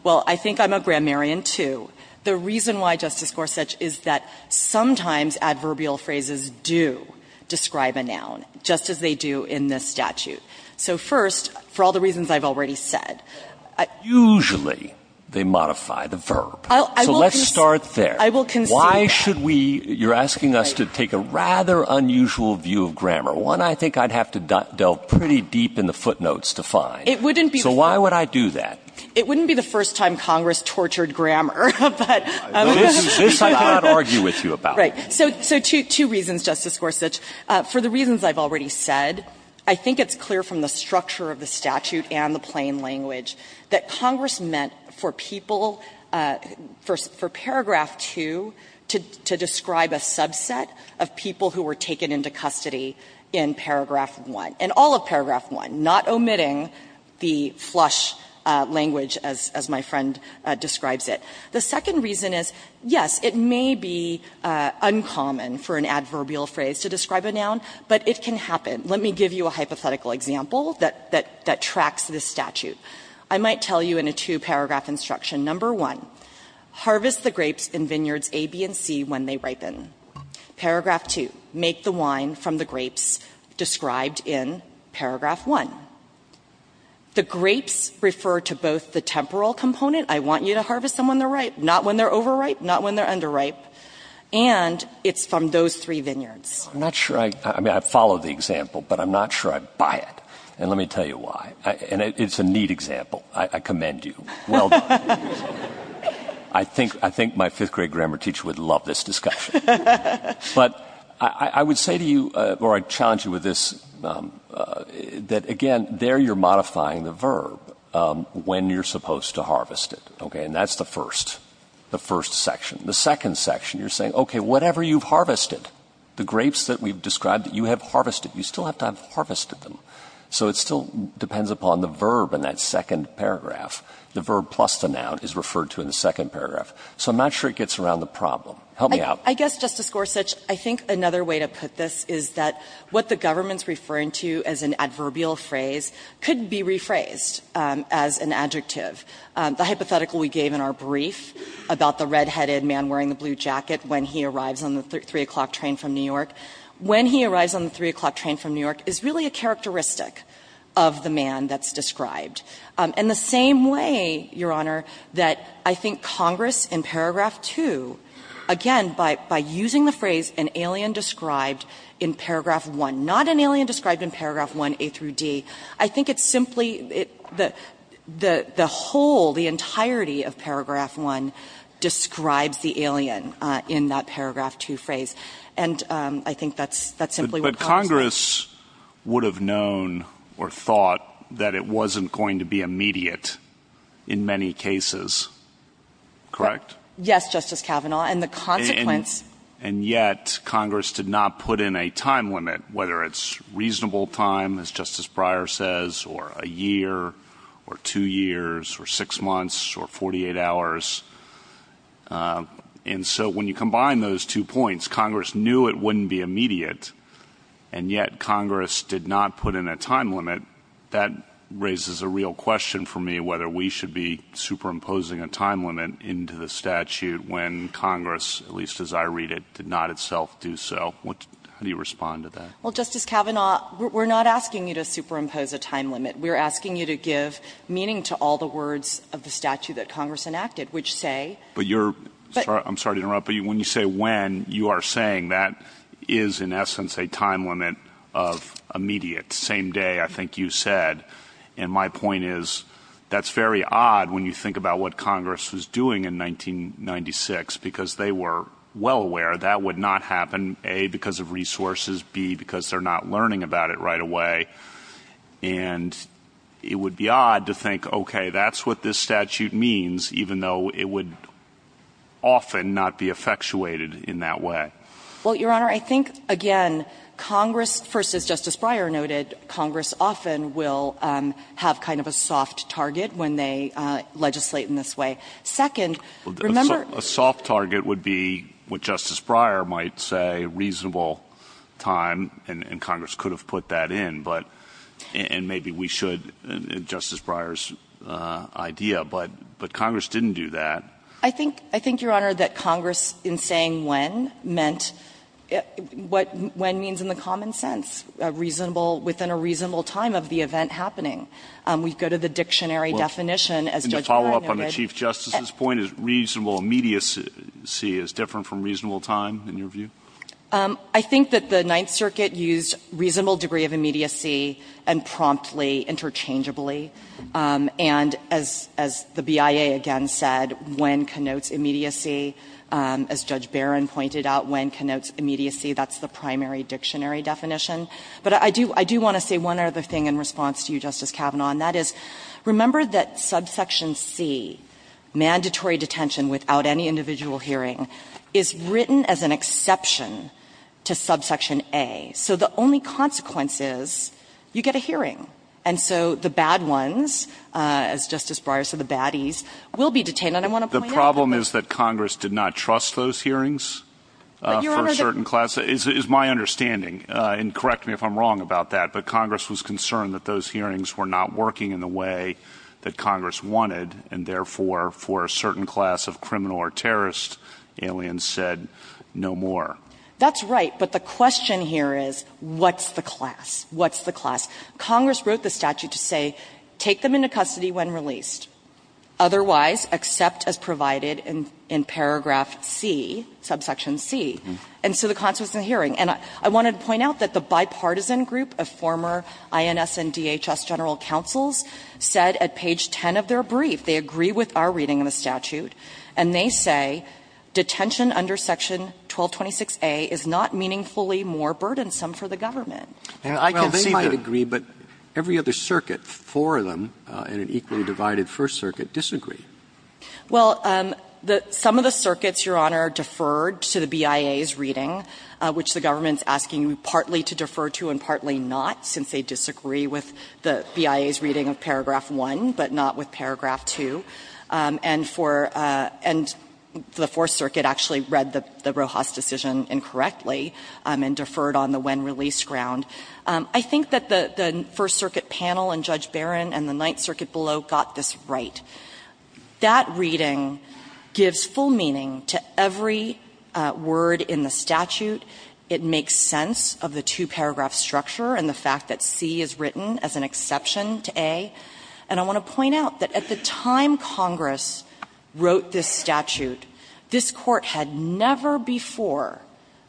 Well, I think I'm a grammarian, too. The reason why, Justice Gorsuch, is that sometimes adverbial phrases do describe a noun, just as they do in this statute. So first, for all the reasons I've already said. Usually they modify the verb. So let's start there. I will concede that. Why should we, you're asking us to take a rather unusual view of grammar. One I think I'd have to delve pretty deep in the footnotes to find. It wouldn't be. So why would I do that? It wouldn't be the first time Congress tortured grammar, but. This I cannot argue with you about. Right. So two reasons, Justice Gorsuch. For the reasons I've already said, I think it's clear from the structure of the statute and the plain language that Congress meant for people, for paragraph 2 to describe a subset of people who were taken into custody in paragraph 1, and all of paragraph 1, not omitting the flush language as my friend describes it. The second reason is, yes, it may be uncommon for an adverbial phrase to describe a noun, but it can happen. Let me give you a hypothetical example that tracks this statute. I might tell you in a two-paragraph instruction, number 1, harvest the grapes in vineyards A, B, and C when they ripen. Paragraph 2, make the wine from the grapes described in paragraph 1. The grapes refer to both the temporal component, I want you to harvest them when they're ripe, not when they're overripe, not when they're underripe, and it's from those three vineyards. I'm not sure I, I mean, I follow the example, but I'm not sure I buy it. And let me tell you why. And it's a neat example. I commend you. Well done. I think, I think my fifth-grade grammar teacher would love this discussion. But I would say to you, or I challenge you with this, that again, there you're modifying the verb, when you're supposed to harvest it, okay? And that's the first, the first section. The second section, you're saying, okay, whatever you've harvested, the grapes that we've described, you have harvested, you still have to have harvested them. So it still depends upon the verb in that second paragraph, the verb plus the noun. So I'm not sure it gets around the problem. Help me out. I guess, Justice Gorsuch, I think another way to put this is that what the government's referring to as an adverbial phrase could be rephrased as an adjective. The hypothetical we gave in our brief about the red-headed man wearing the blue jacket when he arrives on the 3 o'clock train from New York, when he arrives on the 3 o'clock train from New York is really a characteristic of the man that's described. And the same way, Your Honor, that I think Congress in paragraph 2, again, by using the phrase an alien described in paragraph 1, not an alien described in paragraph 1a through d, I think it's simply the whole, the entirety of paragraph 1 describes the alien in that paragraph 2 phrase. And I think that's simply what Congress would have known or thought that it wasn't going to be immediate in many cases. Correct? Yes, Justice Kavanaugh. And the consequence... And yet Congress did not put in a time limit, whether it's reasonable time, as Justice Breyer says, or a year or two years or six months or 48 hours. And so when you combine those two points, Congress knew it wouldn't be immediate, and yet Congress did not put in a time limit, that raises a real question for me whether we should be superimposing a time limit into the statute when Congress, at least as I read it, did not itself do so. How do you respond to that? Well, Justice Kavanaugh, we're not asking you to superimpose a time limit. We're asking you to give meaning to all the words of the statute that Congress enacted, which say... But you're... I'm sorry to interrupt, but when you say when, you are saying that is, in essence, a time limit of immediate, same day, I think you said. And my point is, that's very odd when you think about what Congress was doing in 1996, because they were well aware that would not happen, A, because of resources, B, because they're not learning about it right away. And it would be odd to think, okay, that's what this statute means, even though it would often not be effectuated in that way. Well, Your Honor, I think, again, Congress, first, as Justice Breyer noted, Congress often will have kind of a soft target when they legislate in this way. Second, remember... A soft target would be what Justice Breyer might say, reasonable time, and Congress could have put that in, but, and maybe we should, Justice Breyer's idea, but Congress didn't do that. I think, Your Honor, that Congress, in saying when, meant what when means in the common sense, reasonable, within a reasonable time of the event happening. We go to the dictionary definition, as Judge Breyer noted... Well, can you follow up on the Chief Justice's point? Is reasonable immediacy as different from reasonable time, in your view? I think that the Ninth Circuit used reasonable degree of immediacy and promptly, interchangeably. And as the BIA, again, said, when connotes immediacy, as Judge Barron pointed out, when connotes immediacy, that's the primary dictionary definition. But I do want to say one other thing in response to you, Justice Kavanaugh, and that is, remember that subsection C, mandatory detention without any individual hearing, is written as an exception to subsection A. So the only consequence is, you get a hearing. And so, the bad ones, as Justice Breyer said, the baddies, will be detained, and I want to point out... The problem is that Congress did not trust those hearings for a certain class, is my understanding, and correct me if I'm wrong about that, but Congress was concerned that those hearings were not working in the way that Congress wanted, and therefore, for a certain class of criminal or terrorist, aliens said, no more. That's right, but the question here is, what's the class? What's the class? Congress wrote the statute to say, take them into custody when released. Otherwise, accept as provided in paragraph C, subsection C. And so the consequence of the hearing, and I wanted to point out that the bipartisan group of former INS and DHS general counsels said at page 10 of their brief, they agree with our reading of the statute, and they say detention under section 1226A is not meaningfully more burdensome for the government. Roberts Well, they might agree, but every other circuit, four of them, and an equally divided First Circuit, disagree. Well, some of the circuits, Your Honor, deferred to the BIA's reading, which the government is asking partly to defer to and partly not, since they disagree with the BIA's reading of paragraph 1, but not with paragraph 2, and for the Fourth Circuit actually read the Rojas decision incorrectly and deferred on the when-released ground. I think that the First Circuit panel and Judge Barron and the Ninth Circuit below got this right. That reading gives full meaning to every word in the statute. It makes sense of the two-paragraph structure and the fact that C is written as an exception to A. And I want to point out that at the time Congress wrote this statute, this Court had never before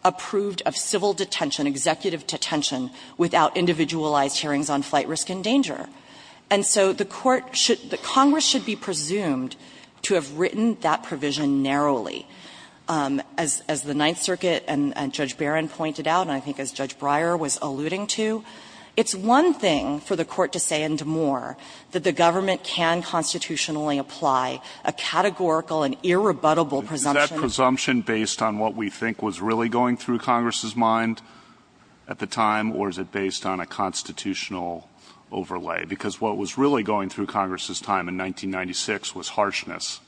approved of civil detention, executive detention, without individualized hearings on flight risk and danger. And so the Court should – the Congress should be presumed to have written that provision narrowly. As the Ninth Circuit and Judge Barron pointed out, and I think as Judge Breyer was going to say and more, that the government can constitutionally apply a categorical and irrebuttable presumption. Is that presumption based on what we think was really going through Congress's mind at the time, or is it based on a constitutional overlay? Because what was really going through Congress's time in 1996 was harshness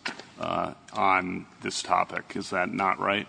on this topic. Is that not right?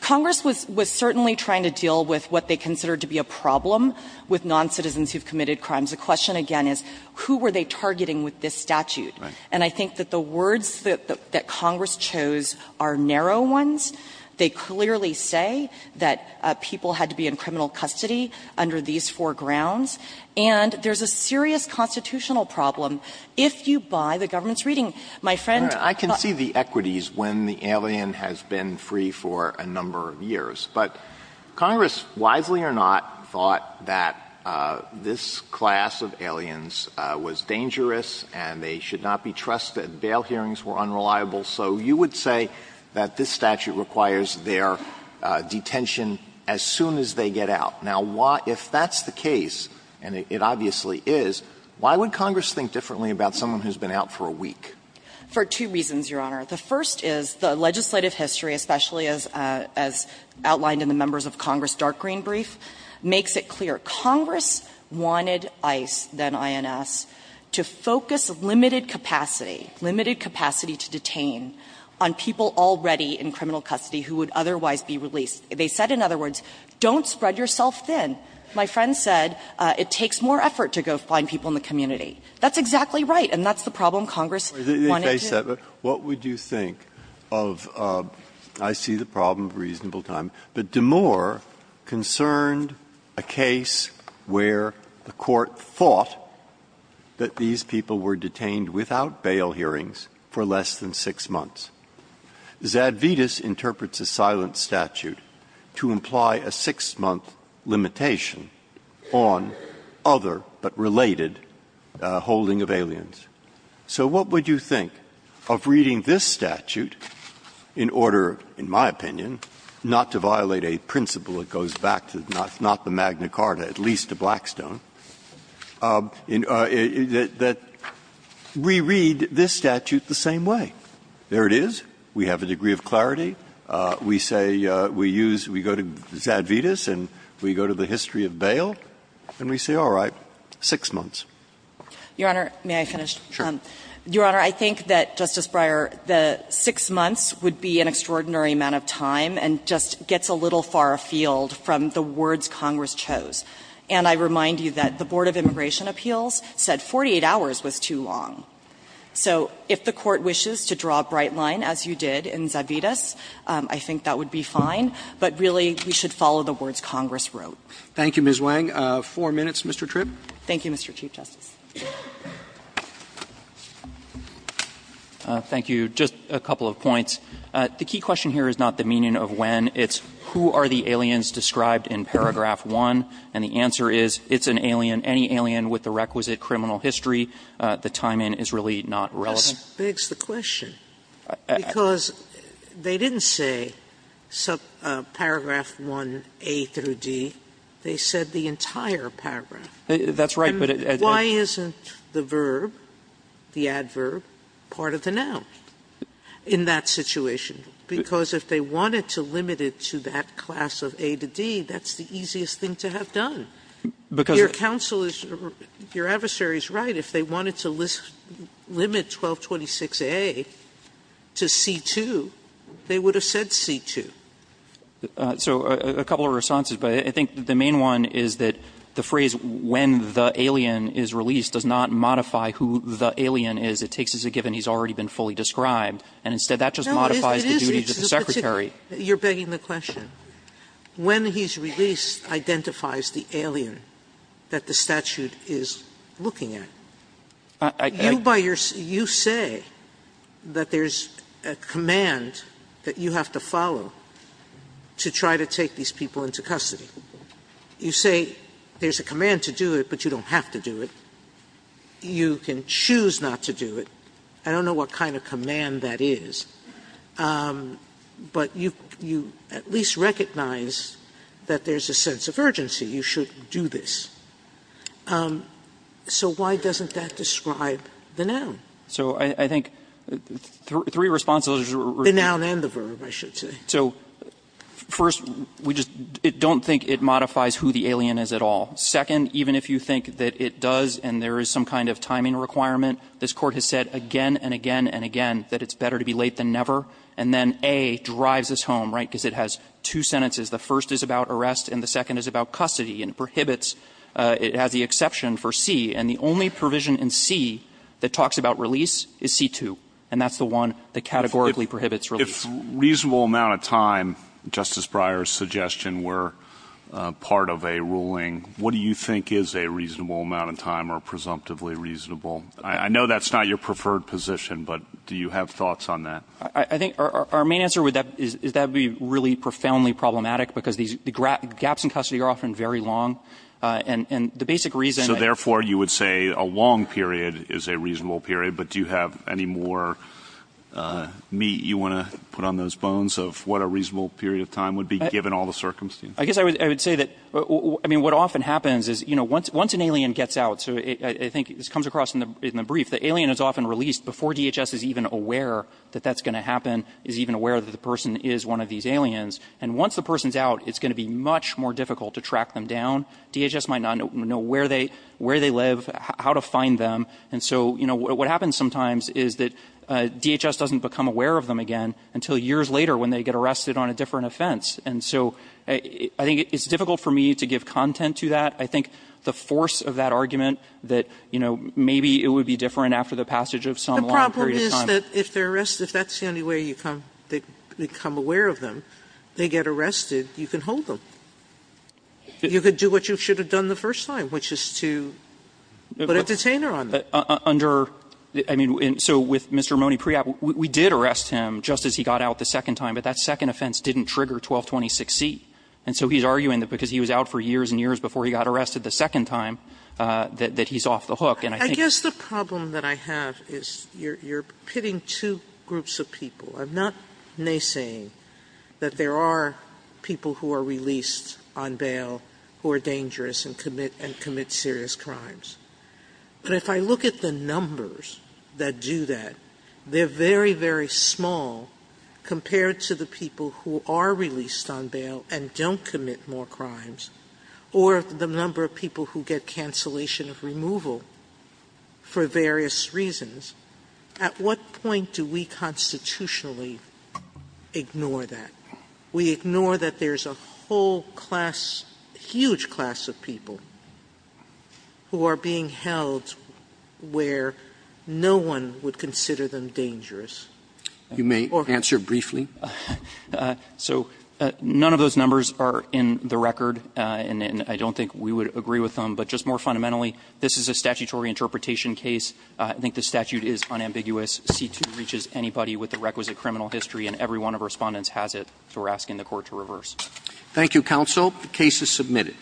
Congress was certainly trying to deal with what they considered to be a problem with noncitizens who have committed crimes. The question again is, who were they targeting with this statute? And I think that the words that Congress chose are narrow ones. They clearly say that people had to be in criminal custody under these four grounds. And there's a serious constitutional problem if you buy the government's reading. My friend – Alitoson I can see the equities when the alien has been free for a number of years. But Congress, wisely or not, thought that this class of aliens was dangerous and they should not be trusted. Bail hearings were unreliable. So you would say that this statute requires their detention as soon as they get out. Now, if that's the case, and it obviously is, why would Congress think differently about someone who's been out for a week? For two reasons, Your Honor. The first is the legislative history, especially as outlined in the members of Congress' dark green brief, makes it clear Congress wanted ICE, then INS, to focus limited capacity, limited capacity to detain on people already in criminal custody who would otherwise be released. They said, in other words, don't spread yourself thin. My friend said it takes more effort to go find people in the community. That's exactly right, and that's the problem Congress wanted to do. What would you think of – I see the problem of reasonable time, but DeMoor concerned a case where the Court thought that these people were detained without bail hearings for less than six months. Zadvitas interprets a silent statute to imply a six-month limitation on other, but related, holding of aliens. So what would you think of reading this statute in order, in my opinion, not to violate a principle that goes back to not the Magna Carta, at least to Blackstone, that we read this statute the same way? There it is. We have a degree of clarity. We say we use – we go to Zadvitas and we go to the history of bail, and we say, all right, six months. Your Honor, may I finish? Sure. Your Honor, I think that, Justice Breyer, the six months would be an extraordinary amount of time and just gets a little far afield from the words Congress chose. And I remind you that the Board of Immigration Appeals said 48 hours was too long. So if the Court wishes to draw a bright line, as you did in Zadvitas, I think that would be fine, but really we should follow the words Congress wrote. Thank you, Ms. Wang. Four minutes, Mr. Tripp. Thank you, Mr. Chief Justice. Thank you. Just a couple of points. The key question here is not the meaning of when. It's who are the aliens described in paragraph 1, and the answer is it's an alien, any alien with the requisite criminal history. The time in is really not relevant. Sotomayor's question, because they didn't say paragraph 1a through d. They said the entire paragraph. That's right, but at the end of the paragraph, they didn't say paragraph 1a through d. And why isn't the verb, the adverb, part of the noun in that situation? Because if they wanted to limit it to that class of a to d, that's the easiest thing to have done. Because your counsel is or your adversary is right. If they wanted to limit 1226a to c2, they would have said c2. So a couple of responses, but I think the main one is that the phrase when the alien is released does not modify who the alien is. It takes as a given he's already been fully described. And instead, that just modifies the duty to the secretary. Sotomayor's question, when he's released identifies the alien that the statute is looking at. You by your you say that there's a command that you have to follow. To try to take these people into custody. You say there's a command to do it, but you don't have to do it. You can choose not to do it. I don't know what kind of command that is. But you at least recognize that there's a sense of urgency. You should do this. So why doesn't that describe the noun? So I think three responses. The noun and the verb, I should say. So first, we just don't think it modifies who the alien is at all. Second, even if you think that it does and there is some kind of timing requirement, this Court has said again and again and again that it's better to be late than never. And then a drives us home, right? Because it has two sentences. The first is about arrest and the second is about custody and prohibits. It has the exception for c. And the only provision in c that talks about release is c2. And that's the one that categorically prohibits release. If reasonable amount of time, Justice Breyer's suggestion, were part of a ruling, what do you think is a reasonable amount of time or presumptively reasonable? I know that's not your preferred position, but do you have thoughts on that? I think our main answer is that would be really profoundly problematic because the gaps in custody are often very long. And the basic reason- So therefore, you would say a long period is a reasonable period. But do you have any more meat you want to put on those bones of what a reasonable period of time would be given all the circumstances? I guess I would say that what often happens is once an alien gets out, so I think this comes across in the brief, the alien is often released before DHS is even aware that that's going to happen, is even aware that the person is one of these aliens. And once the person's out, it's going to be much more difficult to track them down. DHS might not know where they live, how to find them. And so what happens sometimes is that DHS doesn't become aware of them again until years later when they get arrested on a different offense. And so I think it's difficult for me to give content to that. I think the force of that argument that maybe it would be different after the passage of some long period of time- The problem is that if they're arrested, if that's the only way you become aware of them, they get arrested, you can hold them. You could do what you should have done the first time, which is to put a detainer on them. Under the ---- I mean, so with Mr. Mone-Priap, we did arrest him just as he got out the second time, but that second offense didn't trigger 1226C. And so he's arguing that because he was out for years and years before he got arrested the second time, that he's off the hook. And I think- Sotomayor, I guess the problem that I have is you're pitting two groups of people. I'm not naysaying that there are people who are released on bail who are dangerous and commit serious crimes. But if I look at the numbers that do that, they're very, very small compared to the people who are released on bail and don't commit more crimes or the number of people who get cancellation of removal for various reasons. At what point do we constitutionally ignore that? We ignore that there's a whole class, huge class of people who are being held where no one would consider them dangerous? Or- You may answer briefly. So none of those numbers are in the record, and I don't think we would agree with them, but just more fundamentally, this is a statutory interpretation case. I think the statute is unambiguous. C2 reaches anybody with the requisite criminal history, and every one of the Respondents has it. So we're asking the Court to reverse. Thank you, Counsel. The case is submitted.